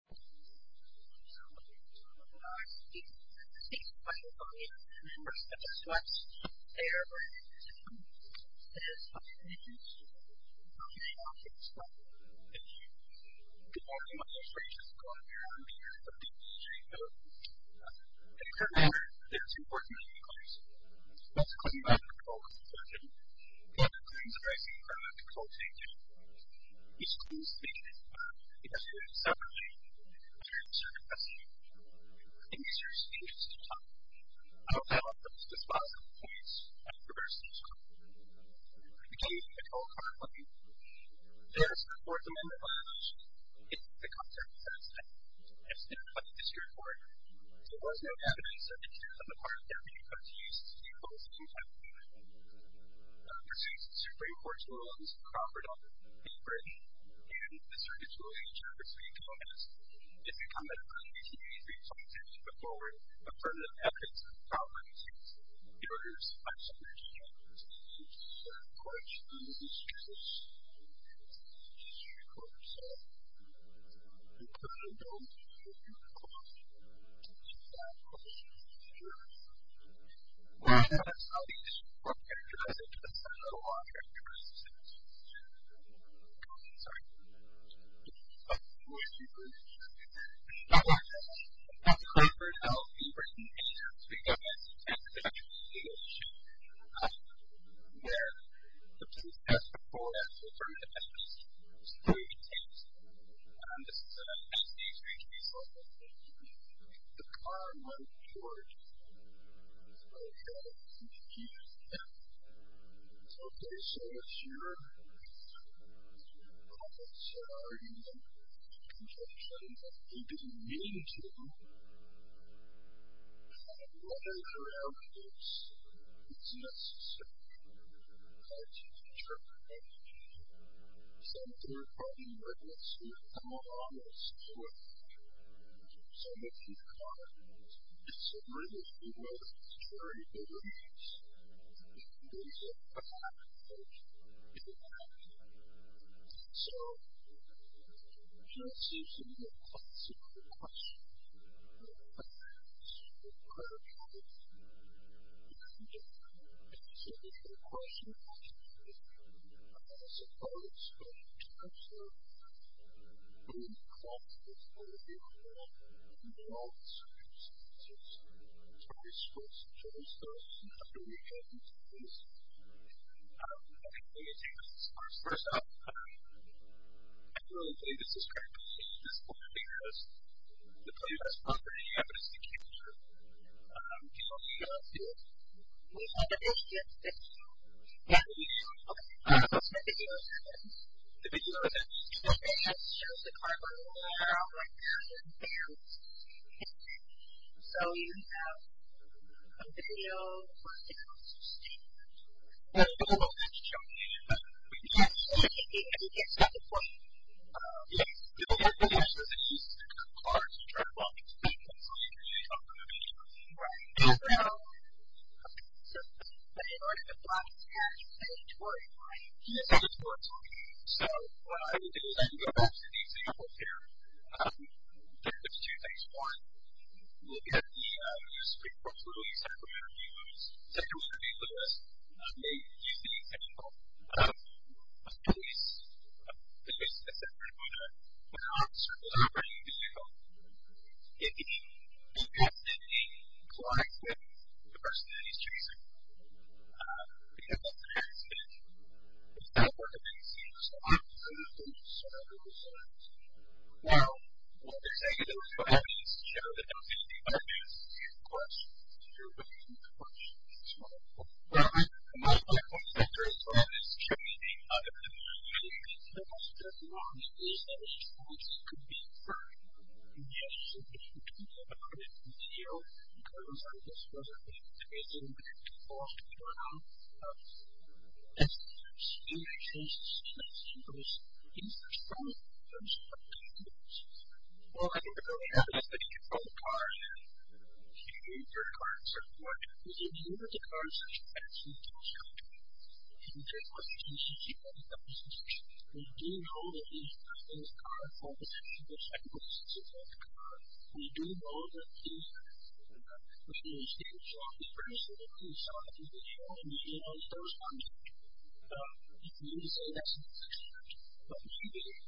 So, I'm going to take some questions from the members of this class. They are very interested in this. It is up to you. I'm going to hand it off to this fellow. Thank you. Good morning. My name is Richard. I'm going to be your moderator for today. So, I'm going to start off by saying that it's important that you close. That's because you might not be able to call this a session. But closing is a very simple term. It's a call to action. It's a cool statement. But it has to do with separation and circumcision. And these are serious issues to talk about. I will tell you about just a small set of points. I'm going to reverse the talk. We can't even get to all of them at once. There's the Fourth Amendment violation. It's a concept that has been put in this report. There was no evidence that the terms of the part that we have come to use to call it a property in Britain. And the Circumcision and Trafficking Committee, if you comment on any of these things, we expect to put forward affirmative evidence that the property is yours by separation and circumcision. And, of course, this is just a small piece of history for yourself. And, clearly, though, if you call it a property, it's not a property that's yours. We're going to have to have the issue of what characterizes it. But it's not a lot of characterizations. Sorry. We're going to have to have the issue of what characterizes it. We've got Clayford Health in Britain, and we've got Massachusetts, and we've got Georgia, and we've got Michigan, where the police passed a report that was affirmative evidence. So we need to take this. This is an STHC solicitation. The car went towards my head. He said, Okay, so it's your property. So are you going to circumcise it? And he didn't mean to. And what I found out is it's necessary to interpret something that's been going on in this situation. So if you've got a disability, you know that it's very dangerous. If you lose it, it's not a problem. It'll be okay. So here are some of your classical questions. Are you going to circumcise it? Are you going to circumcise it? If you do, and you say, This is a question from a student. This is a follow-up question to a question from a student. Are you going to cross-examine the car? Are you going to circumcise it? Are you going to circumcise it? So this is a question from a student. Dr. Rieger, would you like to take this? I think we need to take this discursive. First off, I feel that this is critical. This is critical because the claim is property evidence. The claim is here. Do you want to do it? We have a discussion with you. Yeah, we do. Okay. What's the video evidence? The video evidence? The video evidence shows the car going around like this. And so you have a video of the car sustained. Well, we don't know if that's true. We can't say anything. We can't stop the car. Yes. So what we're going to do is we're going to use the car to try to walk into the victim so we can really talk to the victim. Right. So, you know, in the past, you guys have been touring, right? Yes, we have been touring. So what I'm going to do is I'm going to go back to these examples here. There's two things. One, we'll get the Supreme Court's ruling that Sacramento v. Lewis. Sacramento v. Lewis. I'm going to use the example of a police officer who's operating a vehicle. If he bypassed it and he collides with the person that he's chasing, he has less than an accident. If that were the case, he would still have the same injuries. Well, what they're saying is there was no evidence to show that there was anything bypassed. And, of course, the Supreme Court's ruling is false. Well, my point is that there is no evidence to show anything bypassed. The only evidence that there is evidence to show that there is evidence could be a crime. Yes, there is. You can look at the video. It goes like this. There's a woman chasing a vehicle off the ground. Yes. And there's no evidence to show that she was injured. There's no evidence to show that she was injured. Well, I think the problem is how do you control the car? You can't do your car in a certain way. If you look at the car in such a fashion, you can't tell. You can't tell if it's a police vehicle or a police officer's vehicle. We do know that the car falls into the second place. It's a black car. We do know that the person who was taking the shot was pretty severe. We saw that he was shot in the head. He was probably shot in the head. We can use that as an excuse. But we can't do that.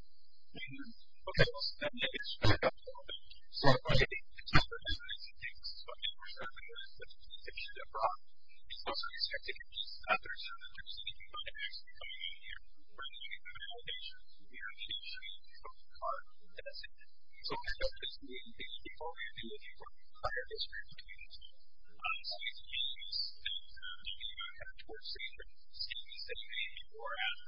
Okay. It's true. I think we're starting to realize that if she got brought, we also expect to hear from others. We're going to see if we can find an explanation here. We're going to see if there's an allegation. We're going to see if she broke the car and that's it. So, I think we're going to be looking for prior history of the case. I'm not going to say it's the case. I'm going to say it's the case. Okay.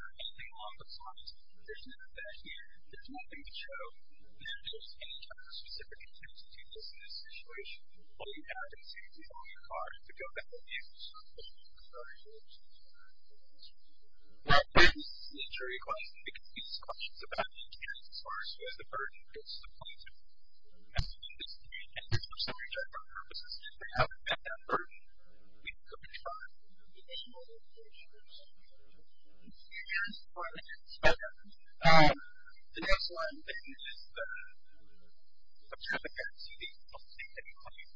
The next one is a traffic accident. I'll take that one.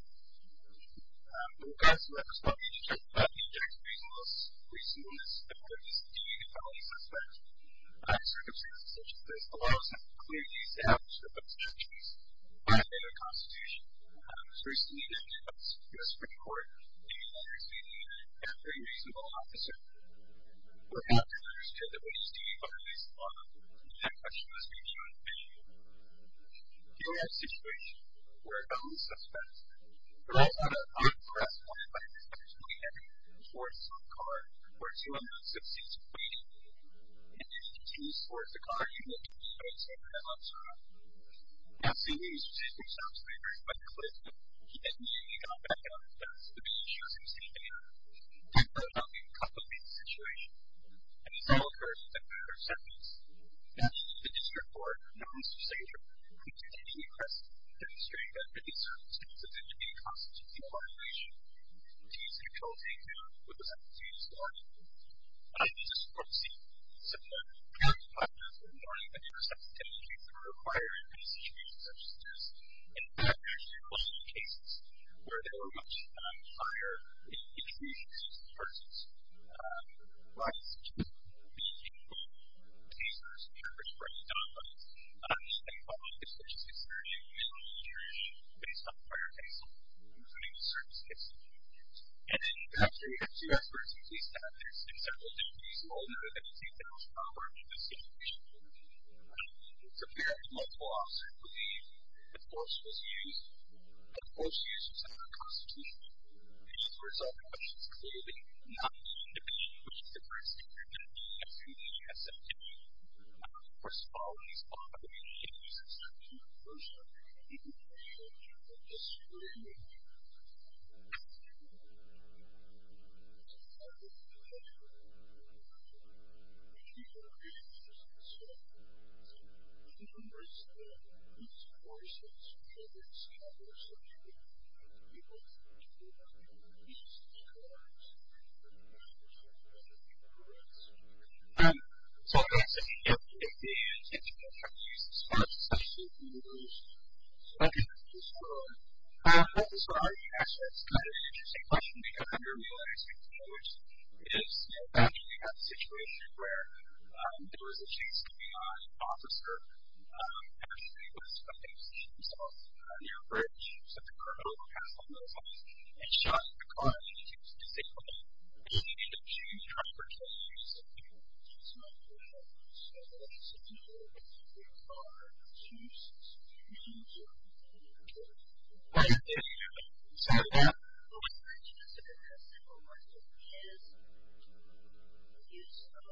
Okay. So, that was one. We just talked about injecting reasonableness, reasonableness, and what it means to be a felony suspect. Circumstances such as this allow us to have a clear case to have a prescription case by the state of the Constitution. It was recently enacted by the Supreme Court, and it's being used by a very reasonable officer. We're happy to understand that we just need to find reasonableness, and that question must be answered by you. Here we have a situation where a felony suspect, they're all under armed arrest, wanted by the suspect to put a heavy force on a car, where two of them had six feet, and if he continues to force the car, he may do so at the same time on time. Now, see, these particular stops may vary quite a bit. He didn't immediately come back up. That's the biggest issue I'm seeing right now. We're talking about a complicated situation, and it's all occurring in a matter of seconds. The District Court, not Mr. Sager, continues to request to demonstrate that there are certain circumstances in which a constitutional violation can be controlled and handled without the use of law enforcement. I just want to see if there are any factors in the law that your substantive case may require in a situation such as this. In fact, there's been a lot of cases where there were much higher intrusion cases versus violence cases. There's been a few cases where there's been a reference to armed violence, and a lot of this, which is concerning, is based on prior case law, including the service case law. And then you have to ask your experts at least that there's been several differences, although none of them seem to outweigh the situation. It's apparent that multiple officers believe that force was used, but force used is not a constitution. It's just a result of what is clearly not a constitution, which is the first thing you're going to see as soon as you pass a petition. Of course, all of these other issues are subject to reversal, and we need to make sure that this is really made clear. Thank you. So I'm going to take a few more questions. If you have questions as far as the session goes. Okay. This is for Arnie. Actually, it's kind of an interesting question, because I never realized before, which is after we had the situation where there was a case coming on, an officer actually was coming to see himself near a bridge, so the criminal would pass by those houses, and shot in the car, and he was disabled. And he had a huge driver's license, which in particular would replace people that were involved in this case because of an injury to the cause of an injury in the case. So what is the significance and the width of his use of a vehicle in this kind of activity, and how aggressive or restricted is the force? Maybe this is something that they can sort of answer for you. I'm not supposed to speak to the car involved, but there's people who are in most situations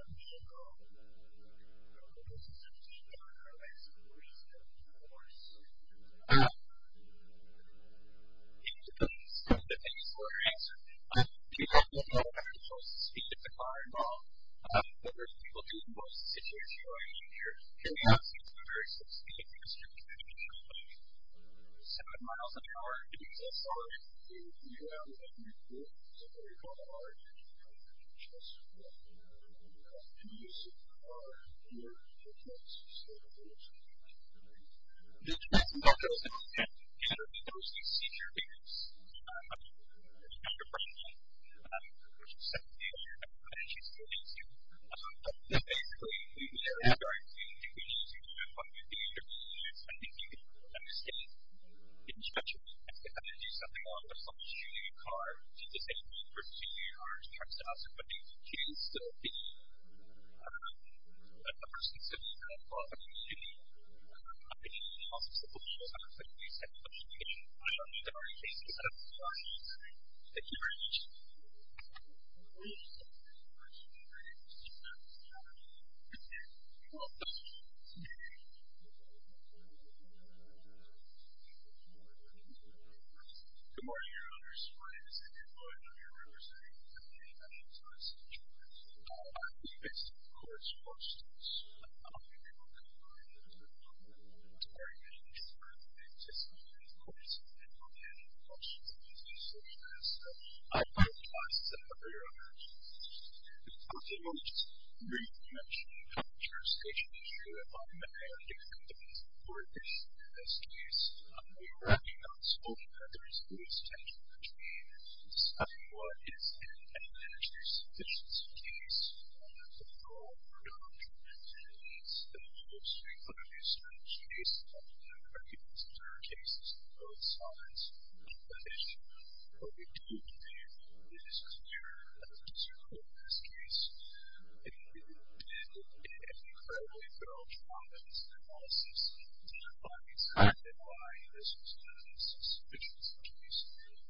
who are injured. Here we have a very specific case. He was driving at a speed of seven miles an hour, and he was also in the area where he was injured, so there is a lot of originality to the fact that he was injured. He was in the car, and he was in the car, and he was in the car, and he was in the car, and he was in the car, and he was in the car. The person's argument is that he had to be there because he's seizure-injured. He had a broken leg. He was 17 years old, and she still needs him. So basically, we would start to do things with the injuries. I think you can understand in judgment if you have to do something along the lines of shooting a car, which is the same thing for shooting a car, it's the same stuff, but it's two. So the person said he had a problem shooting a car. He also said, well, you know, I don't think he's had much of an injury. I don't think there are any cases out of the box. Thank you very much. Good morning, Your Honors. Your Honor, I'm sorry. Is it your pleasure to be representing the National Police Department? Yes, of course. Of course, it is. I'm the Director of the Department of the Military and the Department of the Internal Affairs. I'm here to discuss the case of a man who lost his life in a suicide attack. I have a question for Your Honor. You've talked a lot about the re-election of the Trump administration. You've talked a lot about the pandemic and the work that's been done in this case. We are working on solving that. There is a loose tension between discussing what is an energy-sufficiency case and the role of production. It's an industry-producing case, and I think this is one of the cases of both sides of that issue. What we do need is a clear and constructive look at this case. We did an incredibly thorough trial of this case. We did a lot of research into why this was done. It's a suspicious case.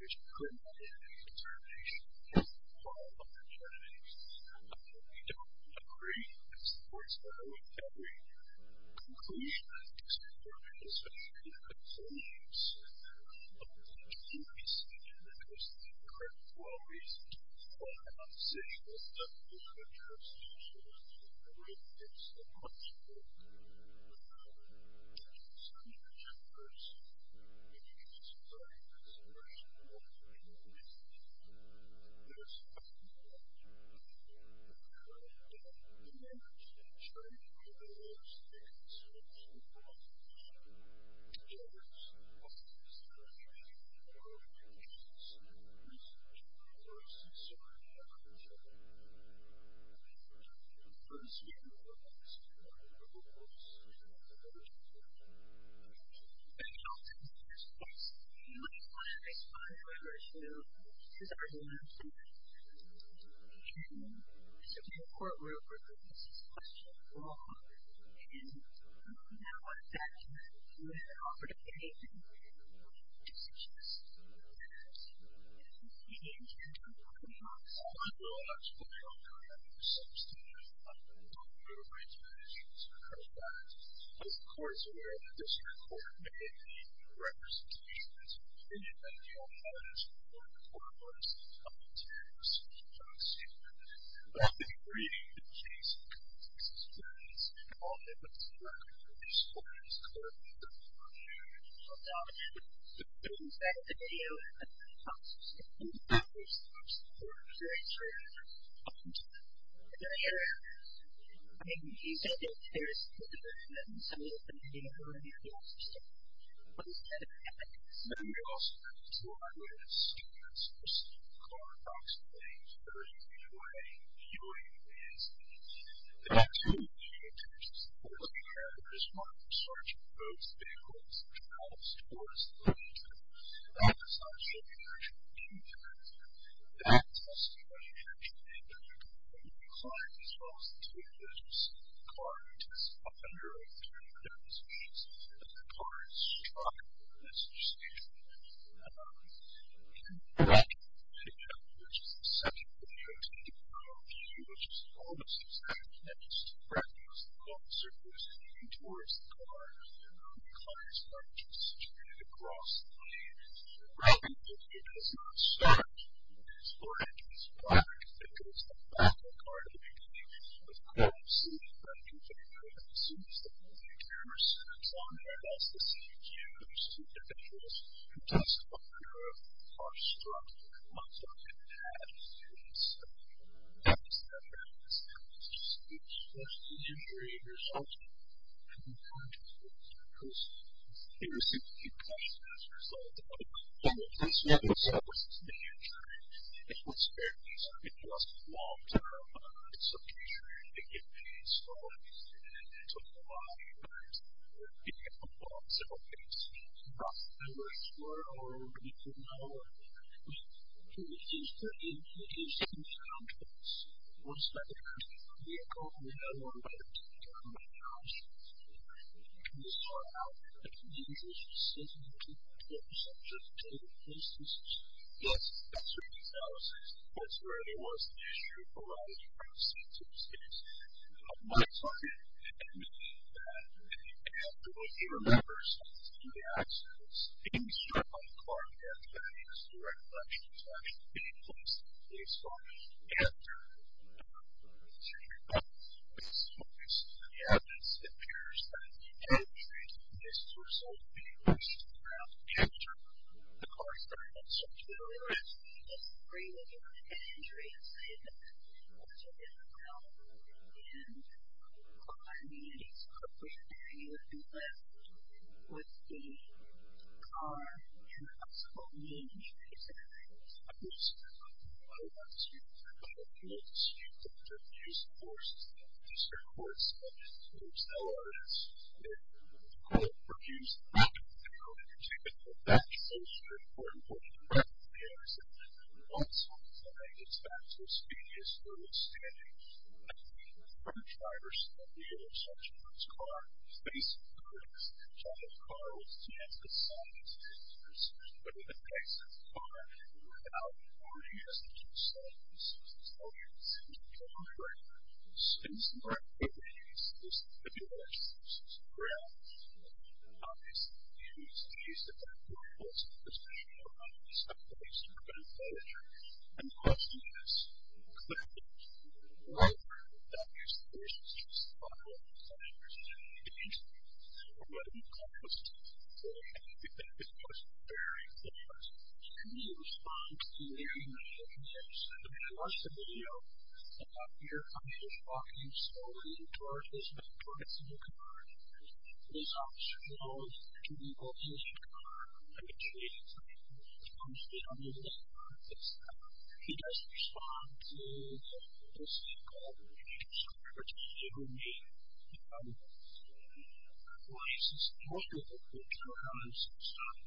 It's a criminal case. It's our nation. It's our law. It's our nation. We don't agree, as the courts have always said, with every conclusion. It's important, especially when you're making conclusions. I will try not to overstate it, I will try not to overstate it because my adjunct officer, I will try not to overstate it because my adjunct officer, who is in charge of the vehicle, and the client as well as the team, the car is in a 100-inch wheelbase, and the car is strutting in this position. And then we have the second vehicle, which is almost exactly the same, and the adjunct officer is leaning towards the car, and the car is going straight across the lane. The reason that it does not start is because the back of the car, the vehicle, is crossing, and the adjunct officer, as soon as the vehicle enters, sits on it, as the seat is used, and the adjunct officer and the test driver are strutting on top of the car, and the second vehicle, as soon as that happens, it's supposed to generate a resultant from the context of the person. It received a few questions as a result of that. One of the questions was, what's the future? What's there? It was long-term. It's a future. It can be slow. It can take a lot of years. It can be a long, simple case. Not that we're sure, or we don't know, but it seems pretty interesting to come to this. One step ahead of the vehicle, and the other one by the test driver, and the adjunct officer. You can just talk about it. I can do this for 60 minutes. I can do this on just a daily basis. Yes, that's where the analysis is. That's where there was the issue for a lot of the privacy issues. My target, and I have to look at the numbers and see the accidents. They can be struck by the car, and that is the recollection of having been placed on the vehicle. It's a recollection. It's a recollection. Yes. It appears that the injuries were so big that she had to capture the car so that it would be released. It's a recollection. It's a recollection. It's a recollection. She had to get the car and the injuries so that she would be left with the car and the possible injuries. I want to come up here to use the words of Mr. Quartz and to accelerate it. Carl Peruse, I know that you take it for granted that it's very important for you to recognize that once on site, it's not so speedy as you understand it. I mean, the front drivers on the intersection with his car, facing the crits, John O'Carroll's team, the scientists, the researchers, but in the case of the car, without warning, as you just said, this was the subject of the interview. On the contrary, since the car had been used as a tabular source of ground, you can obviously see that there are more holes in the position of the car than there are holes in the ground. And the question is, clearly, why were the doctors and nurses using the car when the passengers didn't need to be? And what we've come to see is that this was very important. How do you respond to hearing that the nurse, the nurse in the video, that you're conscious walking slowly towards his vehicle, towards the new car, is observant to the location of the car and the tree in front of him, the tree on the left, that's the car. He doesn't respond to what they'll say, the car, which is the vehicle name. Why is this important? I don't know how much time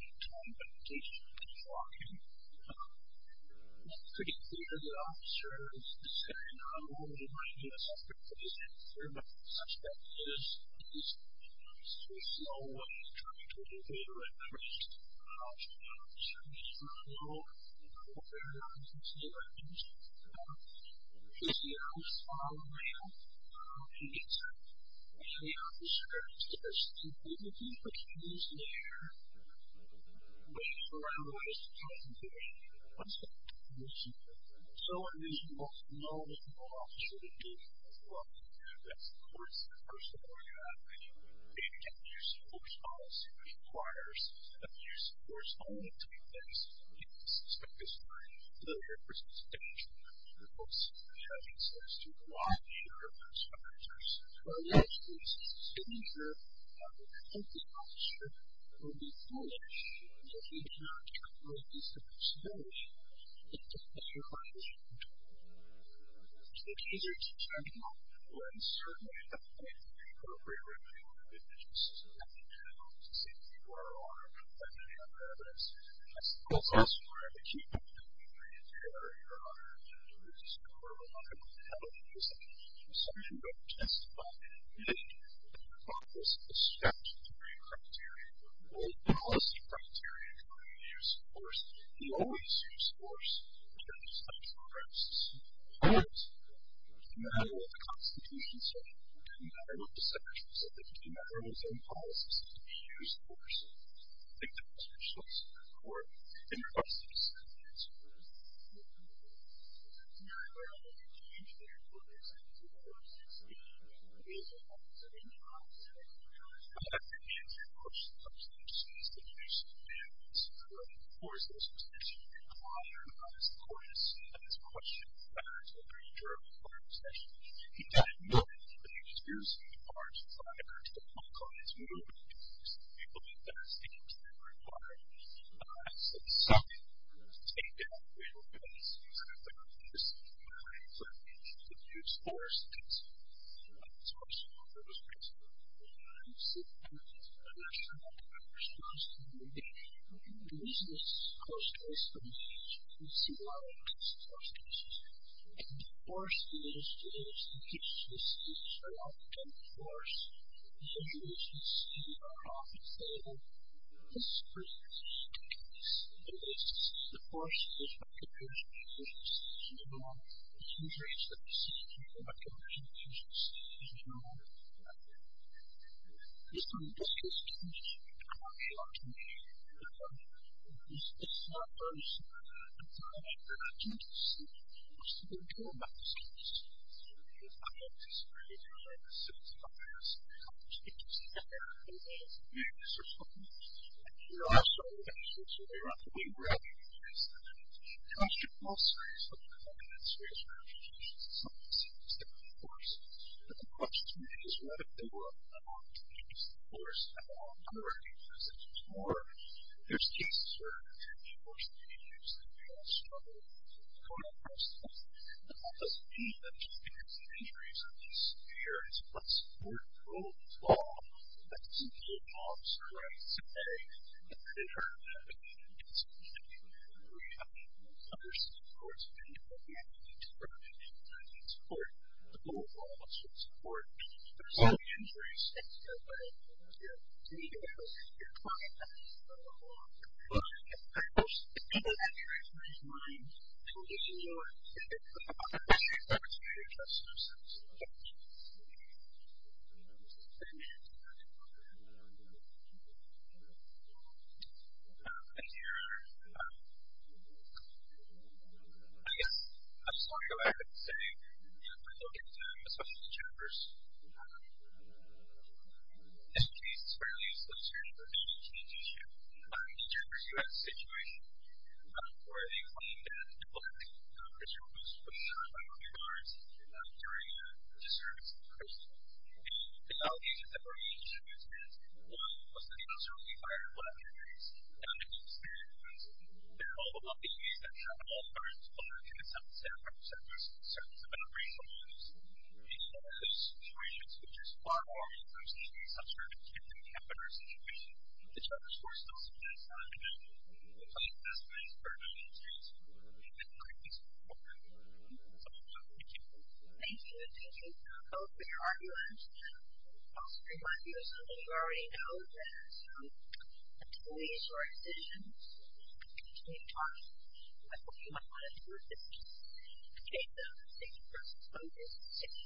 but at least he's walking. It's pretty clear that the officer is saying, oh, well, he might be a suspect, but he's not a suspect. He is, he's in a slow way turning towards the vehicle and approaching the officer. He's not low. He's not very low. He's not very low. He's, you know, following him. He gets up, and the officer says, you know, you can put your hands in the air, but you can't run away. You can't do anything. What's that supposed to mean? So in this moment, the officer, in the video, is walking. That's the course of the person that we have in the video. And again, the use of force policy requires that the use of force only takes place when the suspect is driving so there's a substantial amount of force being exercised to the wide share of those characters. So in this case, it's a signature of a convicted officer who will be punished if he does not complete his subpoena which is to put your car in motion again. So these are two examples where it's certainly appropriate that you would be interested to see if there are any other evidence that supports us or that you think that we need to carry on and do this because we're not going to have a reason for someone to testify who didn't meet the practice of statutory criteria or policy criteria for the use of force. We always use force in terms of such programs as the Supreme Court. No matter what the Constitution says, no matter what the section says, no matter what those own policies say, we use force. I think that's the choice of the Court in regards to the sentence of the court. Now, I don't think that you can go into the court and say, there's a separate process, but I think it's an important substance that you should be able to support. Of course, there's a specific requirement on this courts that this is something that you can take down. We don't think it's necessary for you to use force against the court. Of course, you can use force against the court. You can use force against the court. There's a specific requirement under this record for makers to use force against those master composers. It uses less force that these composers might have in order to do it. The question allowed to use force against those composers that they might have in order to do it. There's cases where people are struggling with that process, but that doesn't mean that just because the injuries are not severe, it's not supported by the law. It's not supported by the law. It's not supported by justice when people do not necessarily want it. The data represents that. It's a procedural problem, but depending on your vision and understanding and understanding of the situation where they find that people who were shot by police during the service of Christmas. The reality is that one was the uncertainty of what happened and what happened during the service. It is not a procedural problem. It's a procedural problem. It's not a procedural problem. It's not a procedural problem. It's not a